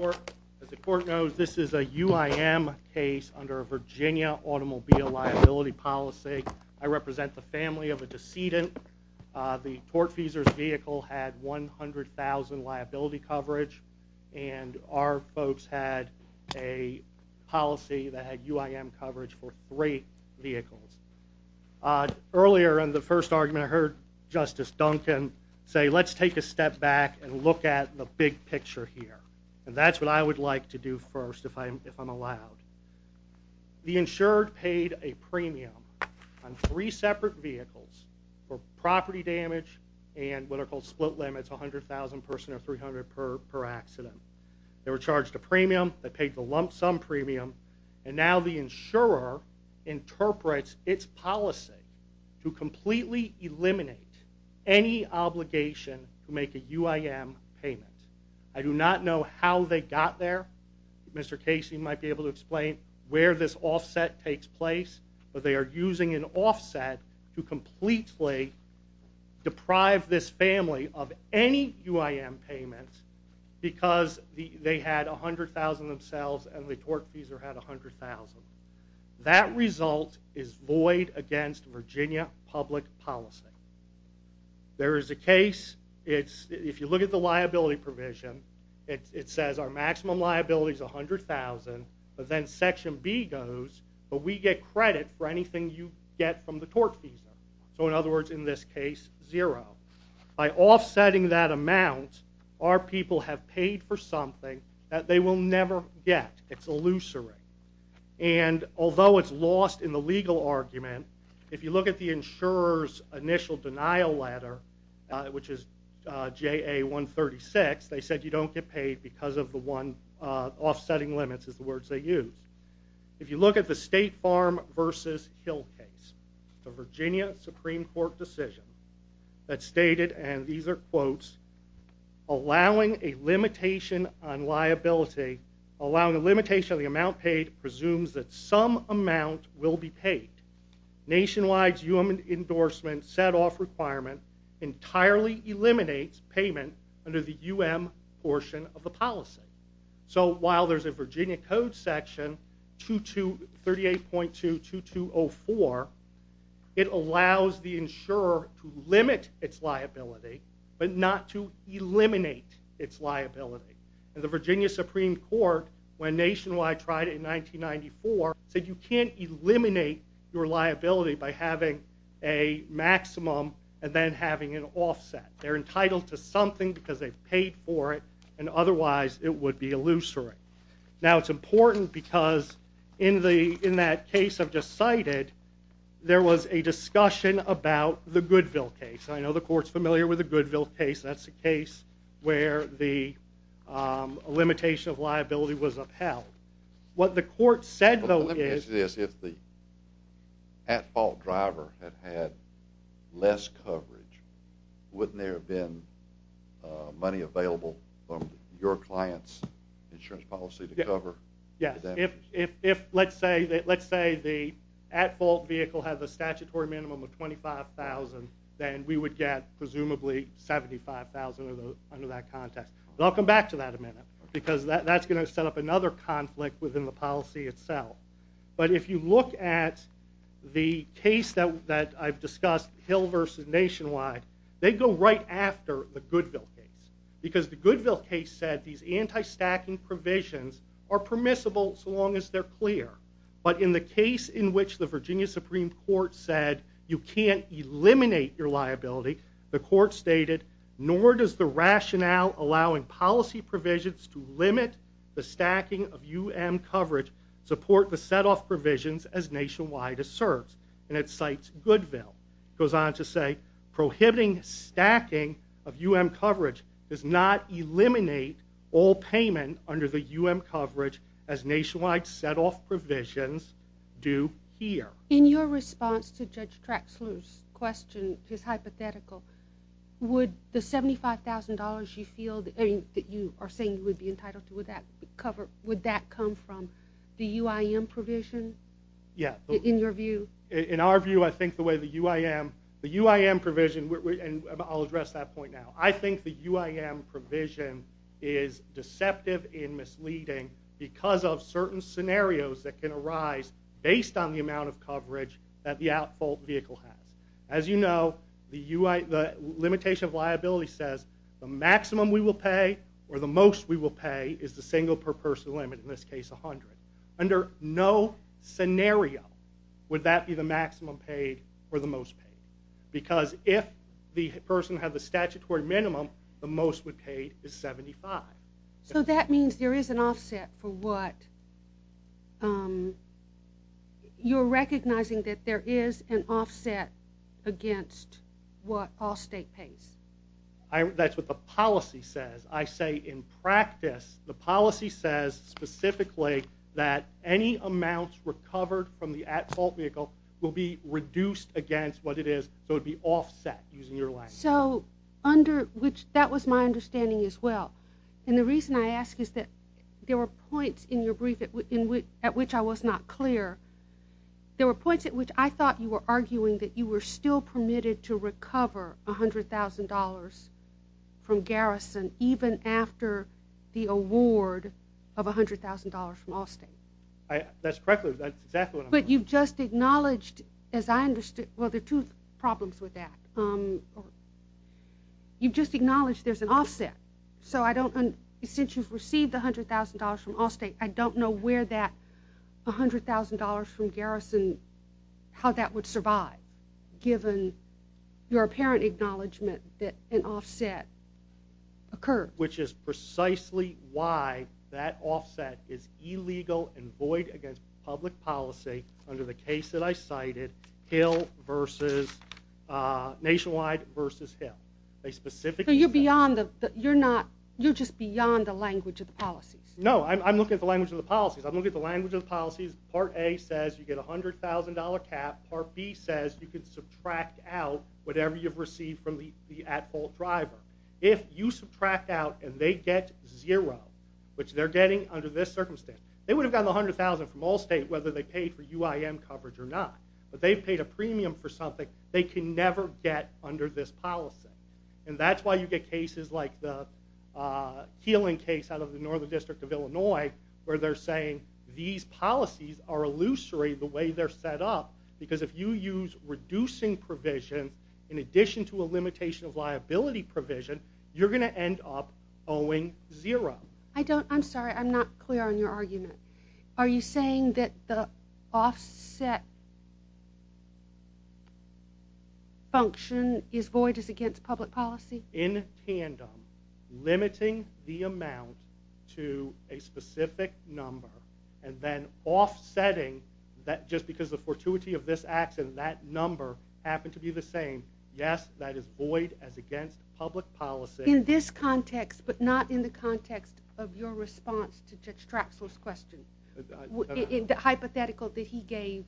As the court knows, this is a UIM case under a Virginia automobile liability policy. I represent the family of a decedent. The tortfeasor's vehicle had 100,000 liability coverage and our folks had a policy that had UIM coverage for three vehicles. Earlier in the first argument, I heard Justice Duncan say, let's take a step back and look at the big picture here. And that's what I would like to do first if I'm allowed. The insured paid a premium on three separate vehicles for property damage and what are called split limits, 100,000% or 300 per accident. They were charged a premium, they paid the lump sum premium, and now the insurer interprets its policy to completely eliminate any obligation to make a UIM payment. I do not know how they got there. Mr. Casey might be able to explain where this offset takes place. They are using an offset to completely deprive this family of any UIM payments because they had 100,000 themselves and the tortfeasor had 100,000. That result is void against Virginia public policy. There is a case, if you look at the liability provision, it says our maximum liability is 100,000 but then section B goes, but we get credit for anything you get from the tortfeasor. So in other words, in this case, zero. By offsetting that amount, our people have paid for something that they will never get. It's illusory. And although it's lost in the legal argument, if you look at the insurer's initial denial letter, which is JA 136, they said you don't get paid because of the offsetting limits is the words they use. If you look at the State Farm versus Hill case, the Virginia Supreme Court decision that stated, and these are quotes, allowing a limitation on liability, allowing a limitation on the amount paid presumes that some amount will be paid. Nationwide's UIM endorsement setoff requirement entirely eliminates payment under the UIM portion of the policy. So while there's a Virginia code section, 38.2-2204, it allows the insurer to limit its liability but not to eliminate its liability. And the Virginia Supreme Court, when Nationwide tried it in 1994, said you can't eliminate your liability by having a maximum and then having an offset. They're entitled to something because they paid for it and otherwise it would be illusory. Now it's important because in that case I've just cited, there was a discussion about the Goodville case. I know the court's familiar with the Goodville case. That's the case where the limitation of liability was upheld. What the court said, though, is... If the at-fault driver had had less coverage, wouldn't there have been money available from your client's insurance policy to cover? Yes. If, let's say, the at-fault vehicle had the statutory minimum of $25,000, then we would get, presumably, $75,000 under that context. I'll come back to that in a minute because that's going to set up another conflict within the policy itself. But if you look at the case that I've discussed, Hill v. Nationwide, they go right after the Goodville case. Because the Goodville case said these anti-stacking provisions are permissible so long as they're clear. But in the case in which the Virginia Supreme Court said you can't eliminate your liability, the court stated, nor does the rationale allowing policy provisions to limit the stacking of UM coverage support the set-off provisions as Nationwide asserts. And it cites Goodville. It goes on to say, prohibiting stacking of UM coverage does not eliminate all payment under the UM coverage as Nationwide set-off provisions do here. In your response to Judge Traxler's question, his hypothetical, would the $75,000 you feel that you are saying you would be entitled to cover, would that come from the UIM provision, in your view? In our view, I think the way the UIM, the UIM provision, and I'll address that point now. I think the UIM provision is deceptive and misleading because of certain scenarios that can arise based on the amount of coverage that the at-fault vehicle has. As you know, the limitation of liability says the maximum we will pay or the most we will pay is the single per person limit, in this case 100. Under no scenario would that be the maximum paid or the most paid. Because if the person had the statutory minimum, the most would pay is 75. So that means there is an offset for what, you're recognizing that there is an offset against what all state pays. That's what the policy says. I say in practice, the policy says specifically that any amounts recovered from the at-fault vehicle will be reduced against what it is. So it would be offset, using your language. So, under which, that was my understanding as well. And the reason I ask is that there were points in your brief at which I was not clear. There were points at which I thought you were arguing that you were still permitted to recover $100,000 from Garrison even after the award of $100,000 from Allstate. That's correct, that's exactly what I'm saying. But you've just acknowledged, as I understood, well there are two problems with that. You've just acknowledged there's an offset. So I don't, since you've received the $100,000 from Allstate, I don't know where that $100,000 from Garrison, how that would survive. Given your apparent acknowledgment that an offset occurs. Which is precisely why that offset is illegal and void against public policy under the case that I cited, Hill vs., Nationwide vs. Hill. So you're beyond the, you're not, you're just beyond the language of the policies. No, I'm looking at the language of the policies. I'm looking at the language of the policies. Part A says you get a $100,000 cap. Part B says you can subtract out whatever you've received from the at-fault driver. If you subtract out and they get zero, which they're getting under this circumstance, they would have gotten the $100,000 from Allstate whether they paid for UIM coverage or not. But they've paid a premium for something they can never get under this policy. And that's why you get cases like the Keeling case out of the Northern District of Illinois, where they're saying these policies are illusory the way they're set up. Because if you use reducing provisions in addition to a limitation of liability provision, you're going to end up owing zero. I don't, I'm sorry, I'm not clear on your argument. Are you saying that the offset function is void as against public policy? In tandem, limiting the amount to a specific number, and then offsetting that just because the fortuity of this accident, that number happened to be the same. Yes, that is void as against public policy. In this context, but not in the context of your response to Judge Traxler's question, the hypothetical that he gave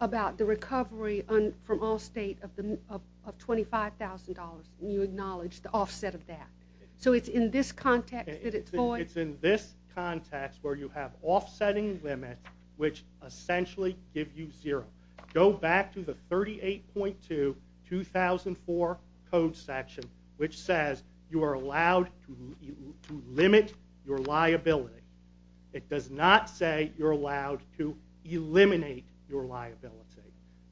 about the recovery from Allstate of $25,000, and you acknowledged the offset of that. So it's in this context that it's void? It's in this context where you have offsetting limits which essentially give you zero. Go back to the 38.2, 2004 code section, which says you are allowed to limit your liability. It does not say you're allowed to eliminate your liability.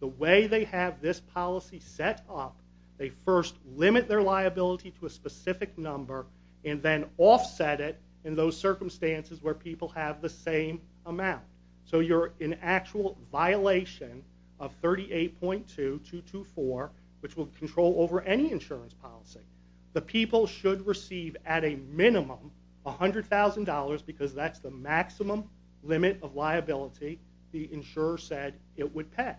The way they have this policy set up, they first limit their liability to a specific number, and then offset it in those circumstances where people have the same amount. So you're in actual violation of 38.2, 224, which will control over any insurance policy. The people should receive at a minimum $100,000 because that's the maximum limit of liability the insurer said it would pay.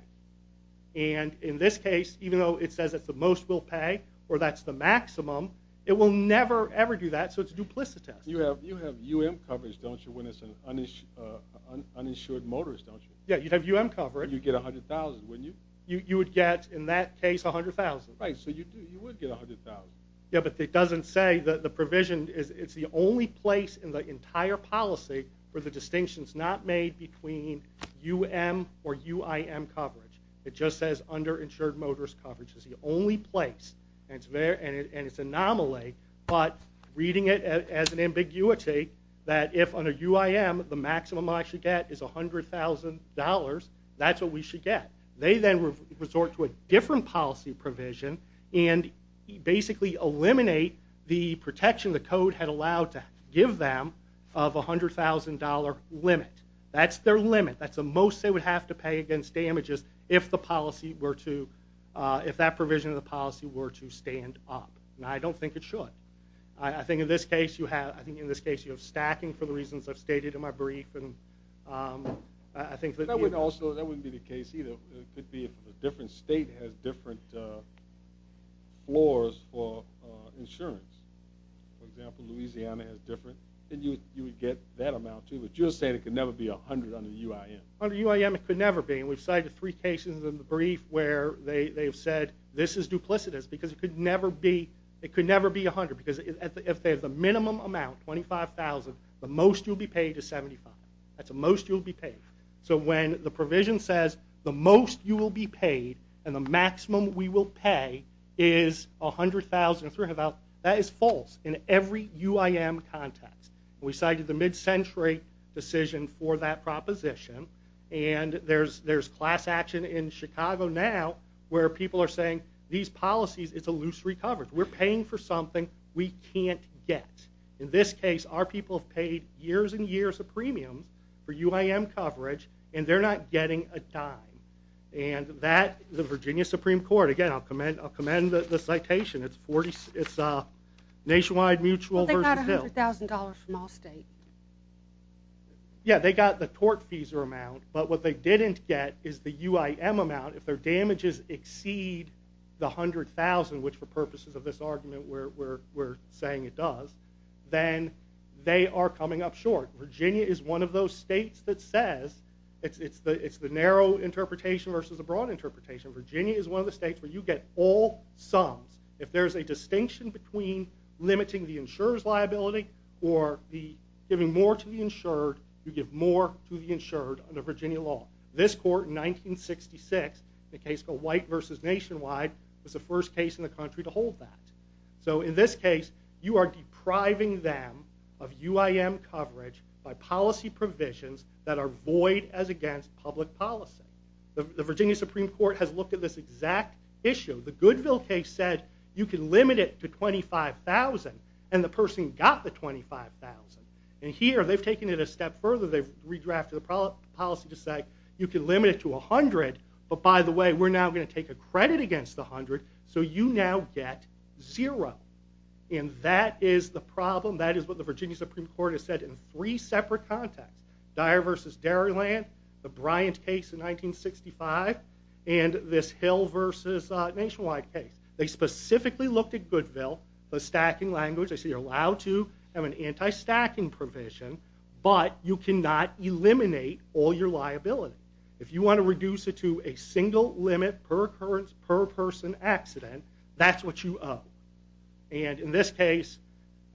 And in this case, even though it says it's the most we'll pay, or that's the maximum, it will never ever do that, so it's duplicitous. You have UM coverage, don't you, when it's an uninsured motorist, don't you? Yeah, you'd have UM coverage. You'd get $100,000, wouldn't you? You would get, in that case, $100,000. Right, so you would get $100,000. Yeah, but it doesn't say. The provision, it's the only place in the entire policy where the distinction's not made between UM or UIM coverage. It just says underinsured motorist coverage is the only place. And it's anomaly, but reading it as an ambiguity, that if under UIM the maximum I should get is $100,000, that's what we should get. They then resort to a different policy provision and basically eliminate the protection the code had allowed to give them of $100,000 limit. That's their limit. That's the most they would have to pay against damages if that provision of the policy were to stand up. Now, I don't think it should. I think in this case you have stacking for the reasons I've stated in my brief. That wouldn't be the case either. It could be if a different state has different floors for insurance. For example, Louisiana has different. You would get that amount too, but you're saying it could never be $100,000 under UIM. Under UIM it could never be, and we've cited three cases in the brief where they have said this is duplicitous because it could never be $100,000 because if they have the minimum amount, $25,000, the most you'll be paid is $75,000. That's the most you'll be paid. So when the provision says the most you will be paid and the maximum we will pay is $100,000, that is false in every UIM context. We cited the mid-century decision for that proposition, and there's class action in Chicago now where people are saying these policies, it's a loose recovery. We're paying for something we can't get. In this case, our people have paid years and years of premiums for UIM coverage, and they're not getting a dime. The Virginia Supreme Court, again, I'll commend the citation. It's nationwide mutual versus Hill. Well, they got $100,000 from all states. Yeah, they got the tort fees amount, but what they didn't get is the UIM amount. If their damages exceed the $100,000, which for purposes of this argument we're saying it does, then they are coming up short. Virginia is one of those states that says, it's the narrow interpretation versus the broad interpretation. Virginia is one of the states where you get all sums. If there's a distinction between limiting the insurer's liability or giving more to the insured, you give more to the insured under Virginia law. This court in 1966, the case called White versus Nationwide, was the first case in the country to hold that. In this case, you are depriving them of UIM coverage by policy provisions that are void as against public policy. The Virginia Supreme Court has looked at this exact issue. The Goodville case said you can limit it to $25,000, and the person got the $25,000. Here, they've taken it a step further. They've redrafted the policy to say you can limit it to $100,000, but by the way, we're now going to take a credit against the $100,000, so you now get zero. And that is the problem. That is what the Virginia Supreme Court has said in three separate contexts. Dyer versus Dairyland, the Bryant case in 1965, and this Hill versus Nationwide case. They specifically looked at Goodville, the stacking language. They say you're allowed to have an anti-stacking provision, but you cannot eliminate all your liability. If you want to reduce it to a single limit per occurrence per person accident, that's what you owe. And in this case,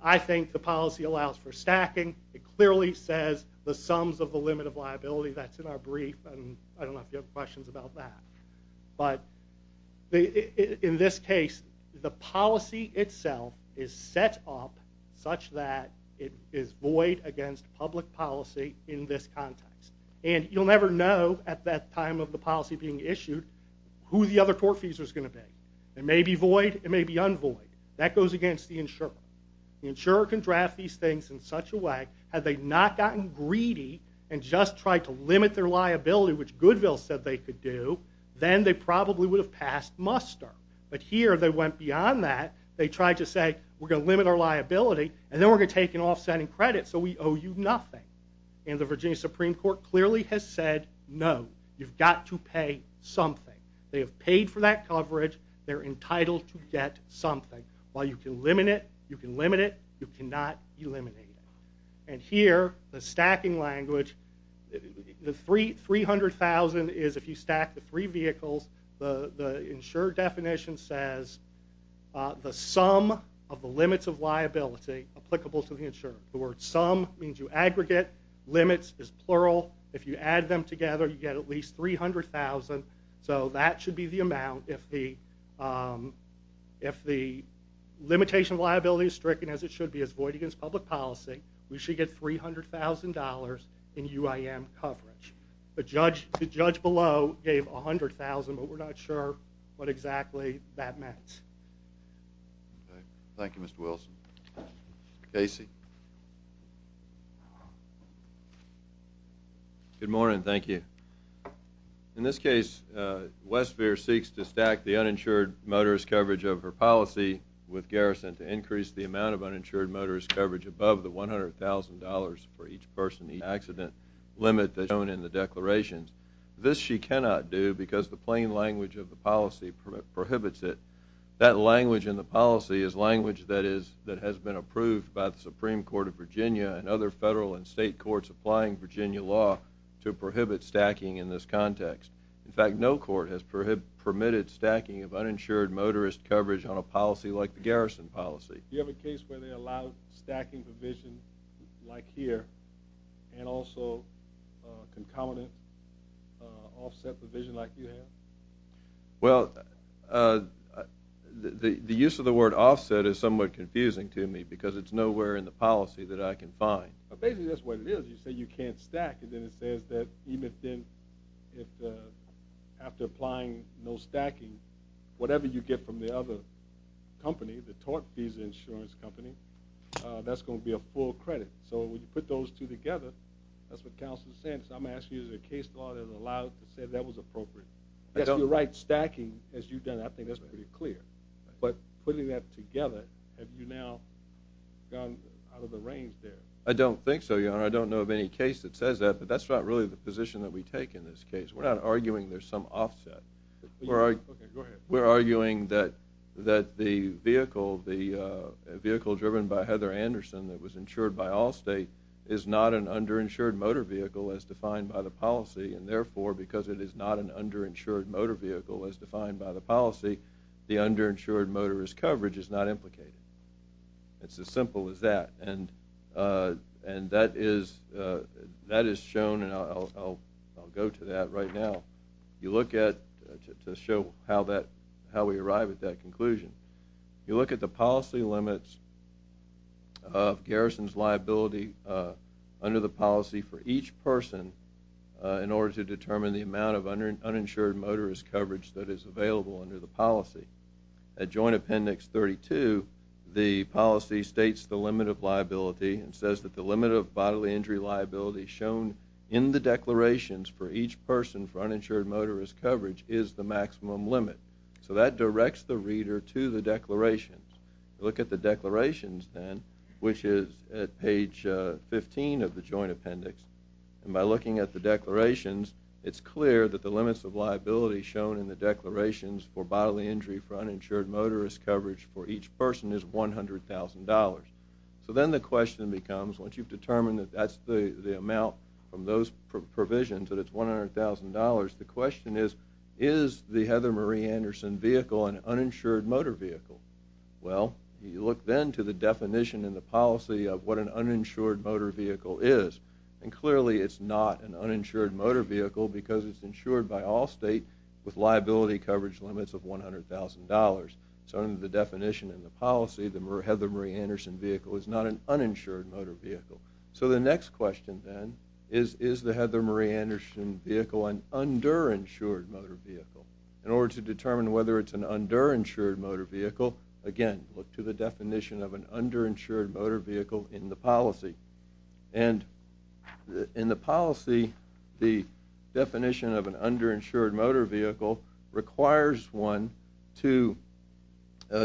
I think the policy allows for stacking. It clearly says the sums of the limit of liability. That's in our brief, and I don't know if you have questions about that. But in this case, the policy itself is set up such that it is void against public policy in this context. And you'll never know at that time of the policy being issued who the other court fees are going to be. It may be void, it may be unvoid. That goes against the insurer. The insurer can draft these things in such a way, had they not gotten greedy and just tried to limit their liability, which Goodville said they could do, then they probably would have passed muster. But here they went beyond that. They tried to say, we're going to limit our liability, and then we're going to take an offsetting credit, so we owe you nothing. And the Virginia Supreme Court clearly has said, no, you've got to pay something. They have paid for that coverage. They're entitled to get something. While you can limit it, you can limit it, you cannot eliminate it. And here, the stacking language, the $300,000 is if you stack the three vehicles. The insurer definition says, the sum of the limits of liability applicable to the insurer. The word sum means you aggregate. Limits is plural. If you add them together, you get at least $300,000. So that should be the amount. If the limitation of liability is stricken as it should be, as void against public policy, we should get $300,000 in UIM coverage. The judge below gave $100,000, but we're not sure what exactly that meant. Thank you, Mr. Wilson. Casey. Good morning. Thank you. In this case, Westphier seeks to stack the uninsured motorist coverage of her policy with Garrison to increase the amount of uninsured motorist coverage above the $100,000 for each person in the accident limit that's shown in the declarations. This she cannot do because the plain language of the policy prohibits it. That language in the policy is language that has been approved by the Supreme Court of Virginia and other federal and state courts applying Virginia law to prohibit stacking in this context. In fact, no court has permitted stacking of uninsured motorist coverage on a policy like the Garrison policy. Do you have a case where they allow stacking provision like here and also concomitant offset provision like you have? Well, the use of the word offset is somewhat confusing to me because it's nowhere in the policy that I can find. Basically, that's what it is. You say you can't stack, and then it says that even if after applying no stacking, whatever you get from the other company, the Tort Visa Insurance Company, that's going to be a full credit. So when you put those two together, that's what counsel is saying. I'm asking you, is there a case law that allows to say that was appropriate? Yes, you're right. Stacking, as you've done, I think that's pretty clear. But putting that together, have you now gone out of the range there? I don't think so, Your Honor. I don't know of any case that says that, but that's not really the position that we take in this case. We're not arguing there's some offset. We're arguing that the vehicle driven by Heather Anderson that was insured by Allstate is not an underinsured motor vehicle as defined by the policy, and therefore because it is not an underinsured motor vehicle as defined by the policy, the underinsured motorist coverage is not implicated. It's as simple as that. And that is shown, and I'll go to that right now to show how we arrive at that conclusion. You look at the policy limits of garrison's liability under the policy for each person in order to determine the amount of uninsured motorist coverage that is available under the policy. At Joint Appendix 32, the policy states the limit of liability and says that the limit of bodily injury liability shown in the declarations for each person for uninsured motorist coverage is the maximum limit. So that directs the reader to the declarations. You look at the declarations then, which is at page 15 of the Joint Appendix, and by looking at the declarations, it's clear that the limits of liability shown in the declarations for bodily injury for uninsured motorist coverage for each person is $100,000. So then the question becomes, once you've determined that that's the amount from those provisions that it's $100,000, the question is, is the Heather Marie Anderson vehicle an uninsured motor vehicle? Well, you look then to the definition in the policy of what an uninsured motor vehicle is, and clearly it's not an uninsured motor vehicle because it's insured by all state with liability coverage limits of $100,000. So under the definition in the policy, the Heather Marie Anderson vehicle is not an uninsured motor vehicle. So the next question then is, is the Heather Marie Anderson vehicle an underinsured motor vehicle? In order to determine whether it's an underinsured motor vehicle, again, look to the definition of an underinsured motor vehicle in the policy. And in the policy, the definition of an underinsured motor vehicle requires one to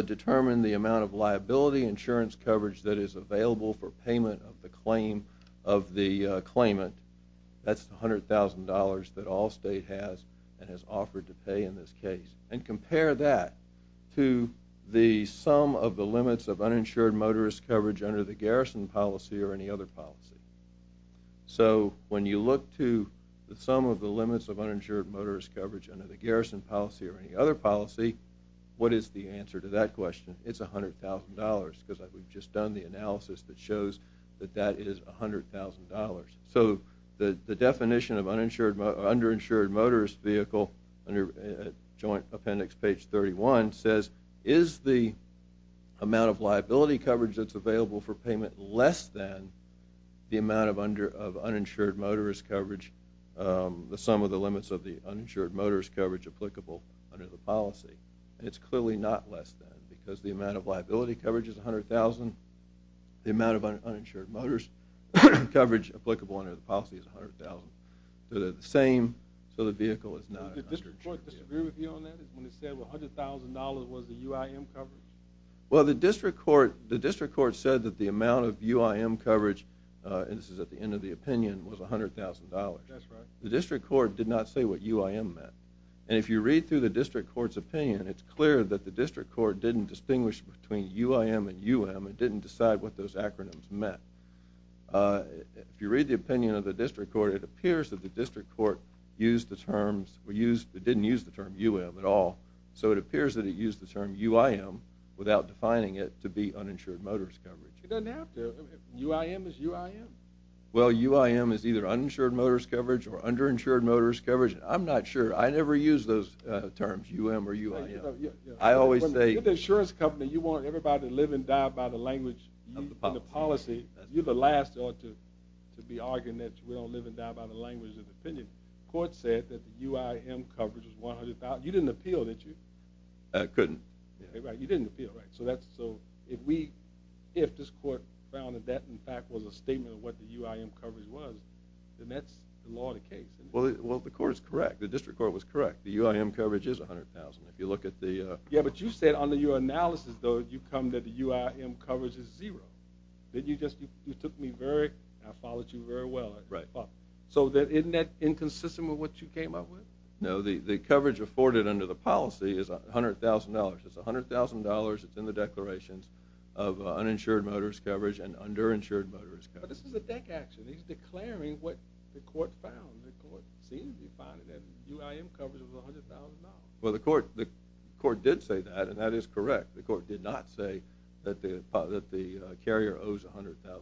determine the amount of liability insurance coverage that is available for payment of the claimant. That's the $100,000 that all state has and has offered to pay in this case. And compare that to the sum of the limits of uninsured motorist coverage under the garrison policy or any other policy. So when you look to the sum of the limits of uninsured motorist coverage under the garrison policy or any other policy, what is the answer to that question? It's $100,000 because we've just done the analysis that shows that that is $100,000. So the definition of underinsured motorist vehicle under Joint Appendix page 31 says, is the amount of liability coverage that's available for payment less than the amount of uninsured motorist coverage, the sum of the limits of the uninsured motorist coverage applicable under the policy. And it's clearly not less than because the amount of liability coverage is $100,000. The amount of uninsured motorist coverage applicable under the policy is $100,000. So they're the same, so the vehicle is not an underinsured vehicle. Did the district court disagree with you on that when it said $100,000 was the UIM coverage? Well, the district court said that the amount of UIM coverage, and this is at the end of the opinion, was $100,000. The district court did not say what UIM meant. And if you read through the district court's opinion, it's clear that the district court didn't distinguish between UIM and UM and didn't decide what those acronyms meant. If you read the opinion of the district court, it appears that the district court used the terms, so it appears that it used the term UIM without defining it to be uninsured motorist coverage. It doesn't have to. UIM is UIM. Well, UIM is either uninsured motorist coverage or underinsured motorist coverage. I'm not sure. I never use those terms, UM or UIM. You're the insurance company. You want everybody to live and die by the language of the policy. You're the last to be arguing that we don't live and die by the language of the opinion. The court said that the UIM coverage was $100,000. You didn't appeal, did you? I couldn't. You didn't appeal, right. So if this court found that that, in fact, was a statement of what the UIM coverage was, then that's the law of the case. Well, the court is correct. The district court was correct. The UIM coverage is $100,000. Yeah, but you said under your analysis, though, you come that the UIM coverage is zero. You took me very—I followed you very well. Right. So isn't that inconsistent with what you came up with? No, the coverage afforded under the policy is $100,000. It's $100,000. It's in the declarations of uninsured motorist coverage and underinsured motorist coverage. But this is a deck action. He's declaring what the court found. The court seemed to be finding that UIM coverage was $100,000. Well, the court did say that, and that is correct. The court did not say that the carrier owes $100,000 to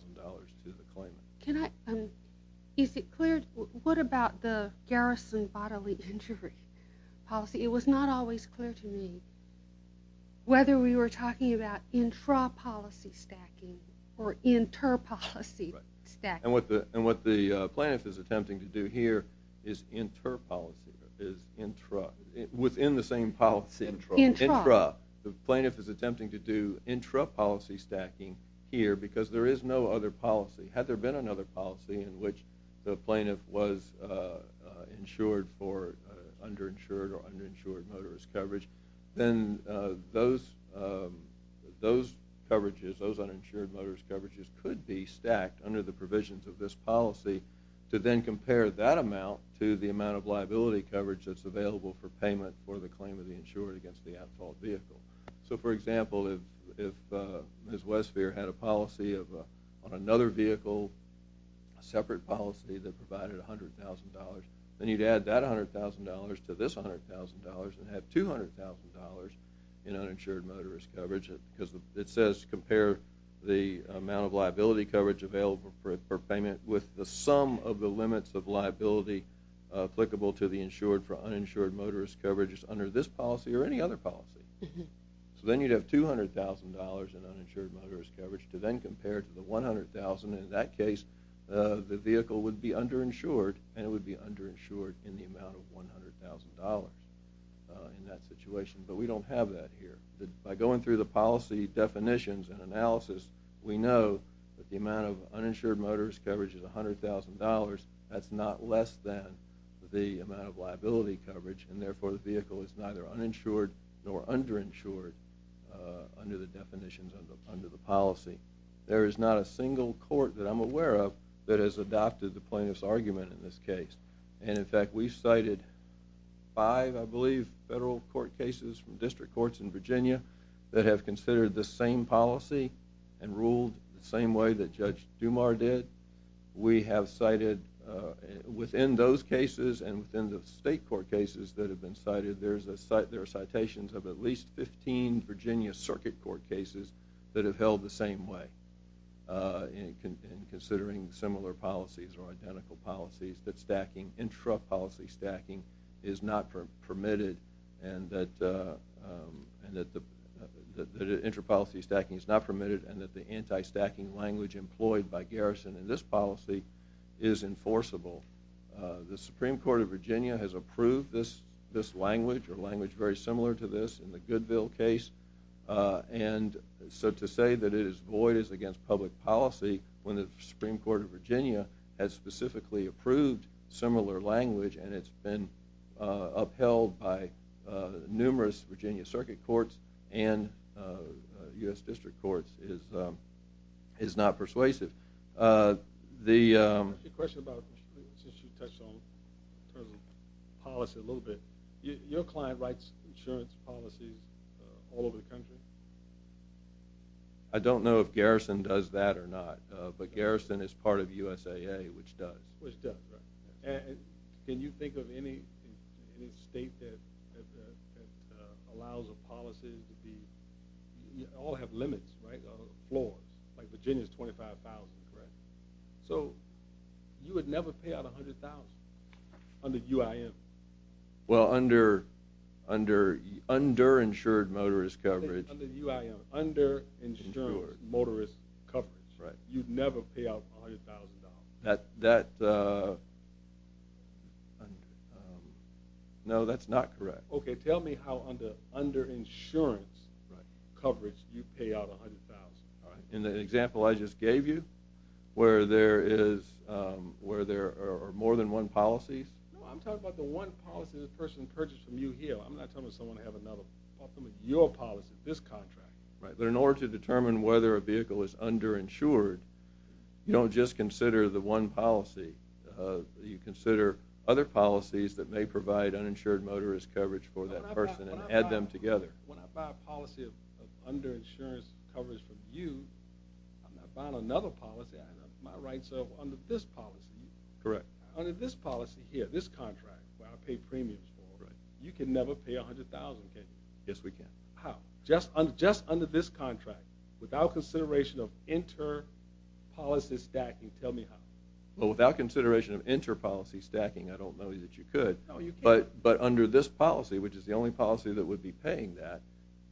the claimant. Can I—is it clear—what about the garrison bodily injury policy? It was not always clear to me whether we were talking about intra-policy stacking or inter-policy stacking. And what the plaintiff is attempting to do here is inter-policy, is intra—within the same policy. Intra. Intra. The plaintiff is attempting to do intra-policy stacking here because there is no other policy. Had there been another policy in which the plaintiff was insured for underinsured or underinsured motorist coverage, then those coverages, those uninsured motorist coverages, could be stacked under the provisions of this policy to then compare that amount to the amount of liability coverage that's available for payment for the claim of the insured against the at-fault vehicle. So, for example, if Ms. Westphier had a policy on another vehicle, a separate policy that provided $100,000, then you'd add that $100,000 to this $100,000 and have $200,000 in uninsured motorist coverage because it says compare the amount of liability coverage available for payment with the sum of the limits of liability applicable to the insured for uninsured motorist coverage under this policy or any other policy. So then you'd have $200,000 in uninsured motorist coverage to then compare to the $100,000. In that case, the vehicle would be underinsured and it would be underinsured in the amount of $100,000 in that situation. But we don't have that here. By going through the policy definitions and analysis, we know that the amount of uninsured motorist coverage is $100,000. That's not less than the amount of liability coverage, and therefore the vehicle is neither uninsured nor underinsured under the definitions under the policy. There is not a single court that I'm aware of that has adopted the plaintiff's argument in this case. And, in fact, we've cited five, I believe, federal court cases from district courts in Virginia that have considered this same policy and ruled the same way that Judge Dumas did. We have cited, within those cases and within the state court cases that have been cited, there are citations of at least 15 Virginia circuit court cases that have held the same way in considering similar policies or identical policies that stacking, intra-policy stacking is not permitted and that the anti-stacking language employed by Garrison in this policy is enforceable. The Supreme Court of Virginia has approved this language or language very similar to this in the Goodville case. And so to say that it is void is against public policy when the Supreme Court of Virginia has specifically approved similar language and it's been upheld by numerous Virginia circuit courts and U.S. district courts is not persuasive. The question about, since you touched on policy a little bit, your client writes insurance policies all over the country? I don't know if Garrison does that or not, but Garrison is part of USAA, which does. Which does, right. And can you think of any state that allows a policy to be, all have limits, right, or flaws? Like Virginia is $25,000, correct? So you would never pay out $100,000 under UIM. Well, under insured motorist coverage. Under UIM, under insured motorist coverage. Right. You'd never pay out $100,000. That, no, that's not correct. Okay, tell me how under insurance coverage you pay out $100,000, all right? In the example I just gave you, where there is, where there are more than one policy. No, I'm talking about the one policy the person purchased from you here. I'm not talking about someone who has another policy. I'm talking about your policy, this contract. Right, but in order to determine whether a vehicle is underinsured, you don't just consider the one policy. You consider other policies that may provide uninsured motorist coverage for that person and add them together. When I buy a policy of underinsurance coverage from you, I'm not buying another policy. I have my rights up under this policy. Correct. Under this policy here, this contract, where I pay premiums for, you can never pay $100,000, can you? Yes, we can. How? Just under this contract, without consideration of inter-policy stacking. Tell me how. Well, without consideration of inter-policy stacking, I don't know that you could. No, you can't. But under this policy, which is the only policy that would be paying that,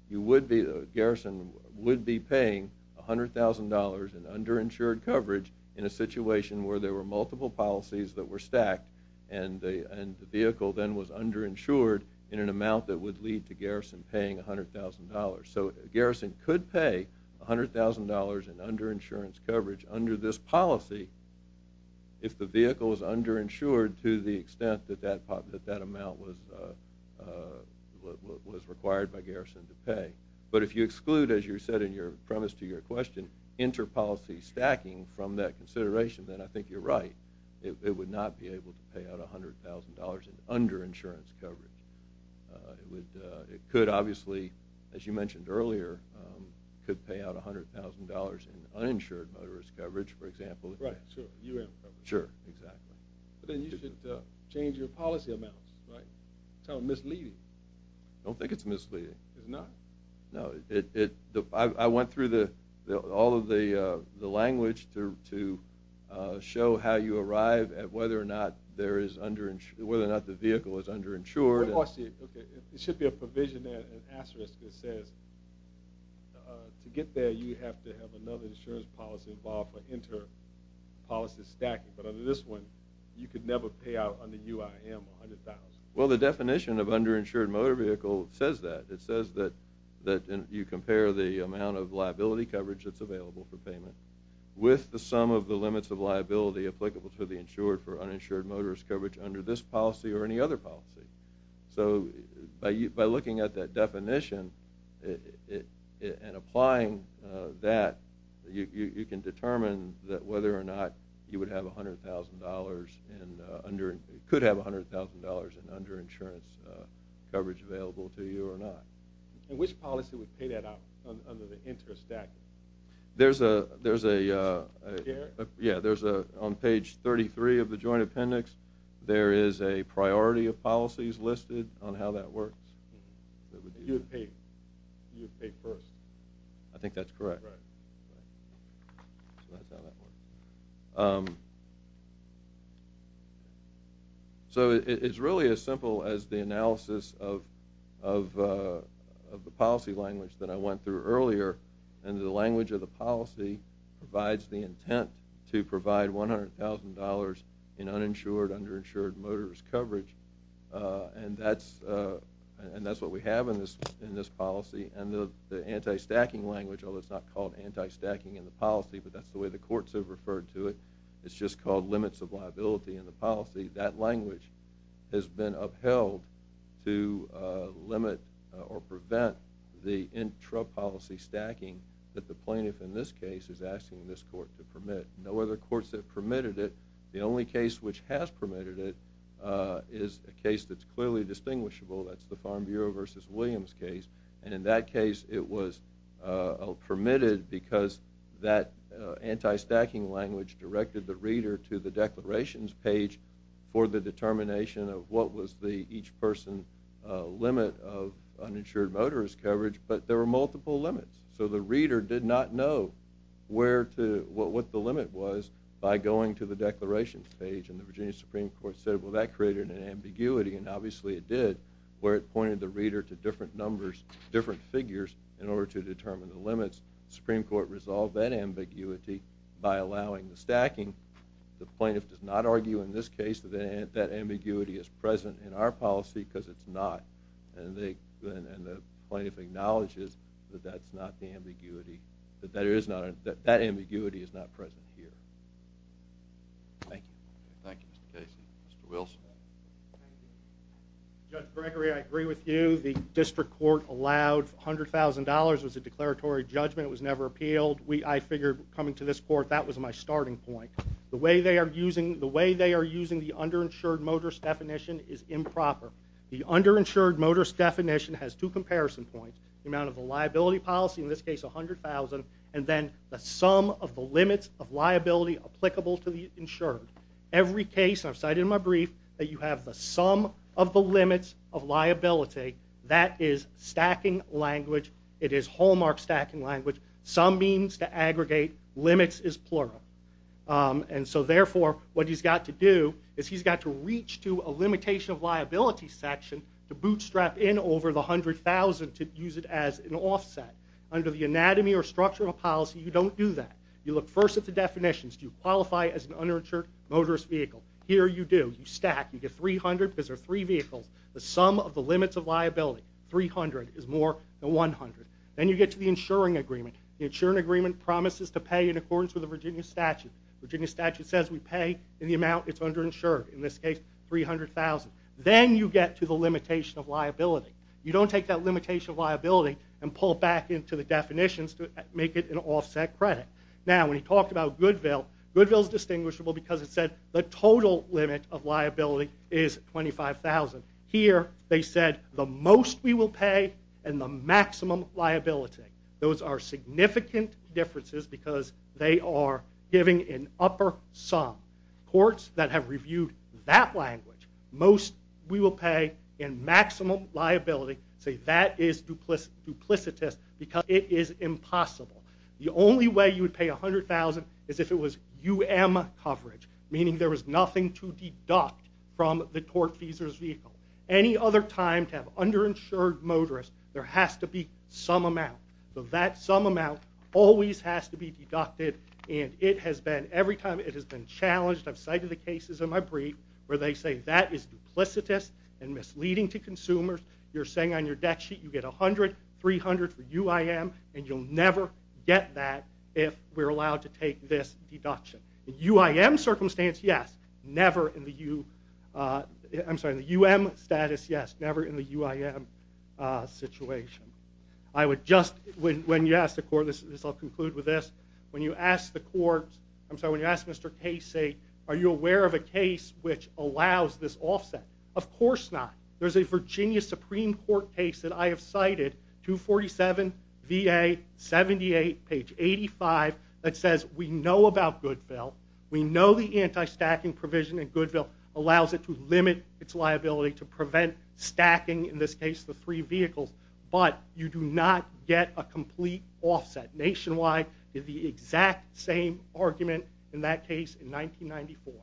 you would be, Garrison would be paying $100,000 in underinsured coverage in a situation where there were multiple policies that were stacked and the vehicle then was underinsured in an amount that would lead to Garrison paying $100,000. So Garrison could pay $100,000 in underinsurance coverage under this policy if the vehicle is underinsured to the extent that that amount was required by Garrison to pay. But if you exclude, as you said in your premise to your question, inter-policy stacking from that consideration, then I think you're right. It would not be able to pay out $100,000 in underinsurance coverage. It could, obviously, as you mentioned earlier, could pay out $100,000 in uninsured motorist coverage, for example. Right, sure, U.M. coverage. Sure, exactly. But then you should change your policy amounts, right? It's misleading. I don't think it's misleading. It's not? No. I went through all of the language to show how you arrive at whether or not the vehicle is underinsured It should be a provision there, an asterisk that says to get there, you have to have another insurance policy involved for inter-policy stacking. But under this one, you could never pay out under UIM $100,000. Well, the definition of underinsured motor vehicle says that. It says that you compare the amount of liability coverage that's available for payment with the sum of the limits of liability applicable to the insured for uninsured motorist coverage under this policy or any other policy. So by looking at that definition and applying that, you can determine whether or not you could have $100,000 in underinsurance coverage available to you or not. And which policy would pay that out under the interest stacking? There's a – yeah, there's a – on page 33 of the joint appendix, there is a priority of policies listed on how that works. You would pay first. I think that's correct. Right. So that's how that works. So it's really as simple as the analysis of the policy language that I went through earlier. And the language of the policy provides the intent to provide $100,000 in uninsured, underinsured motorist coverage. And that's what we have in this policy. And the anti-stacking language, although it's not called anti-stacking in the policy, but that's the way the courts have referred to it, it's just called limits of liability in the policy, that language has been upheld to limit or prevent the intrapolicy stacking that the plaintiff in this case is asking this court to permit. No other courts have permitted it. The only case which has permitted it is a case that's clearly distinguishable. That's the Farm Bureau v. Williams case. And in that case it was permitted because that anti-stacking language directed the reader to the declarations page for the determination of what was the each person limit of uninsured motorist coverage, but there were multiple limits. So the reader did not know what the limit was by going to the declarations page. And the Virginia Supreme Court said, well, that created an ambiguity, and obviously it did, where it pointed the reader to different figures in order to determine the limits. The Supreme Court resolved that ambiguity by allowing the stacking. The plaintiff does not argue in this case that that ambiguity is present in our policy because it's not, and the plaintiff acknowledges that that's not the ambiguity, that that ambiguity is not present here. Thank you. Thank you, Mr. Casey. Mr. Wilson. Judge Gregory, I agree with you. The district court allowed $100,000. It was a declaratory judgment. It was never appealed. I figured coming to this court that was my starting point. The way they are using the underinsured motorist definition is improper. The underinsured motorist definition has two comparison points, the amount of the liability policy, in this case $100,000, and then the sum of the limits of liability applicable to the insured. Every case, and I've cited in my brief, that you have the sum of the limits of liability, that is stacking language. It is hallmark stacking language. Sum means to aggregate. Limits is plural. And so, therefore, what he's got to do is he's got to reach to a limitation of liability section to bootstrap in over the $100,000 to use it as an offset. Under the anatomy or structural policy, you don't do that. You look first at the definitions. Do you qualify as an underinsured motorist vehicle? Here you do. You stack. You get $300,000 because there are three vehicles. The sum of the limits of liability, $300,000, is more than $100,000. Then you get to the insuring agreement. The insuring agreement promises to pay in accordance with the Virginia statute. The Virginia statute says we pay in the amount it's underinsured, in this case $300,000. Then you get to the limitation of liability. You don't take that limitation of liability and pull it back into the definitions to make it an offset credit. Now, when he talked about Goodwill, Goodwill is distinguishable because it said the total limit of liability is $25,000. Here they said the most we will pay and the maximum liability. Those are significant differences because they are giving an upper sum. Courts that have reviewed that language, most we will pay and maximum liability, say that is duplicitous because it is impossible. The only way you would pay $100,000 is if it was UM coverage, meaning there was nothing to deduct from the tortfeasor's vehicle. Any other time to have underinsured motorists, there has to be some amount. That sum amount always has to be deducted, and every time it has been challenged, I've cited the cases in my brief where they say that is duplicitous and misleading to consumers. You're saying on your debt sheet you get $100,000, $300,000 for UIM, and you'll never get that if we're allowed to take this deduction. In UIM circumstance, yes. Never in the UM status, yes. Never in the UIM situation. When you ask the court, and I'll conclude with this, when you ask the court, I'm sorry, when you ask Mr. Casey, are you aware of a case which allows this offset? Of course not. There's a Virginia Supreme Court case that I have cited, 247 VA 78, page 85, that says we know about Goodville, we know the anti-stacking provision in Goodville allows it to limit its liability to prevent stacking, in this case the three vehicles, but you do not get a complete offset. Nationwide is the exact same argument in that case in 1994.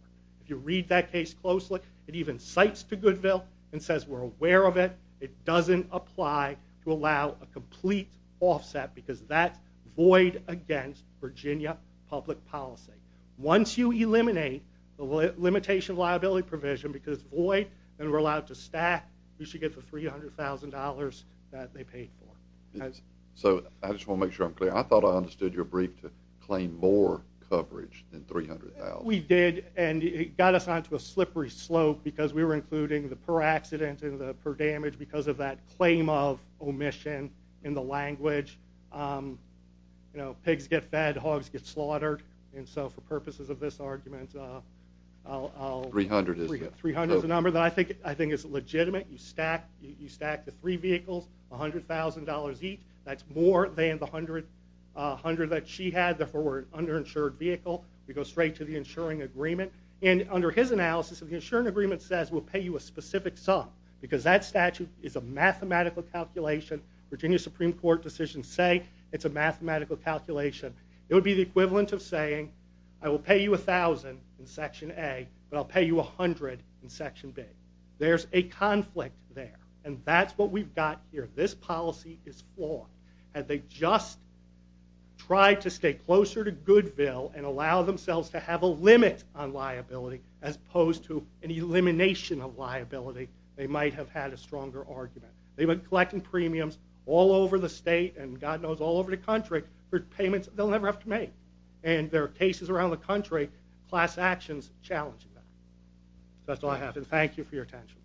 If you read that case closely, it even cites to Goodville and says we're aware of it, it doesn't apply to allow a complete offset because that's void against Virginia public policy. Once you eliminate the limitation liability provision because it's void and we're allowed to stack, we should get the $300,000 that they paid for. So I just want to make sure I'm clear. I thought I understood your brief to claim more coverage than $300,000. We did, and it got us onto a slippery slope because we were including the per accident and the per damage because of that claim of omission in the language. You know, pigs get fed, hogs get slaughtered, and so for purposes of this argument, $300,000 is the number that I think is legitimate. You stack the three vehicles, $100,000 each. That's more than the $100,000 that she had, therefore we're an underinsured vehicle. We go straight to the insuring agreement. And under his analysis, the insuring agreement says we'll pay you a specific sum because that statute is a mathematical calculation. Virginia Supreme Court decisions say it's a mathematical calculation. It would be the equivalent of saying I will pay you $1,000 in Section A, but I'll pay you $100 in Section B. There's a conflict there, and that's what we've got here. This policy is flawed. Had they just tried to stay closer to Goodville and allowed themselves to have a limit on liability as opposed to an elimination of liability, they might have had a stronger argument. They've been collecting premiums all over the state and, God knows, all over the country for payments they'll never have to make. And there are cases around the country, class actions challenging that. That's all I have, and thank you for your attention.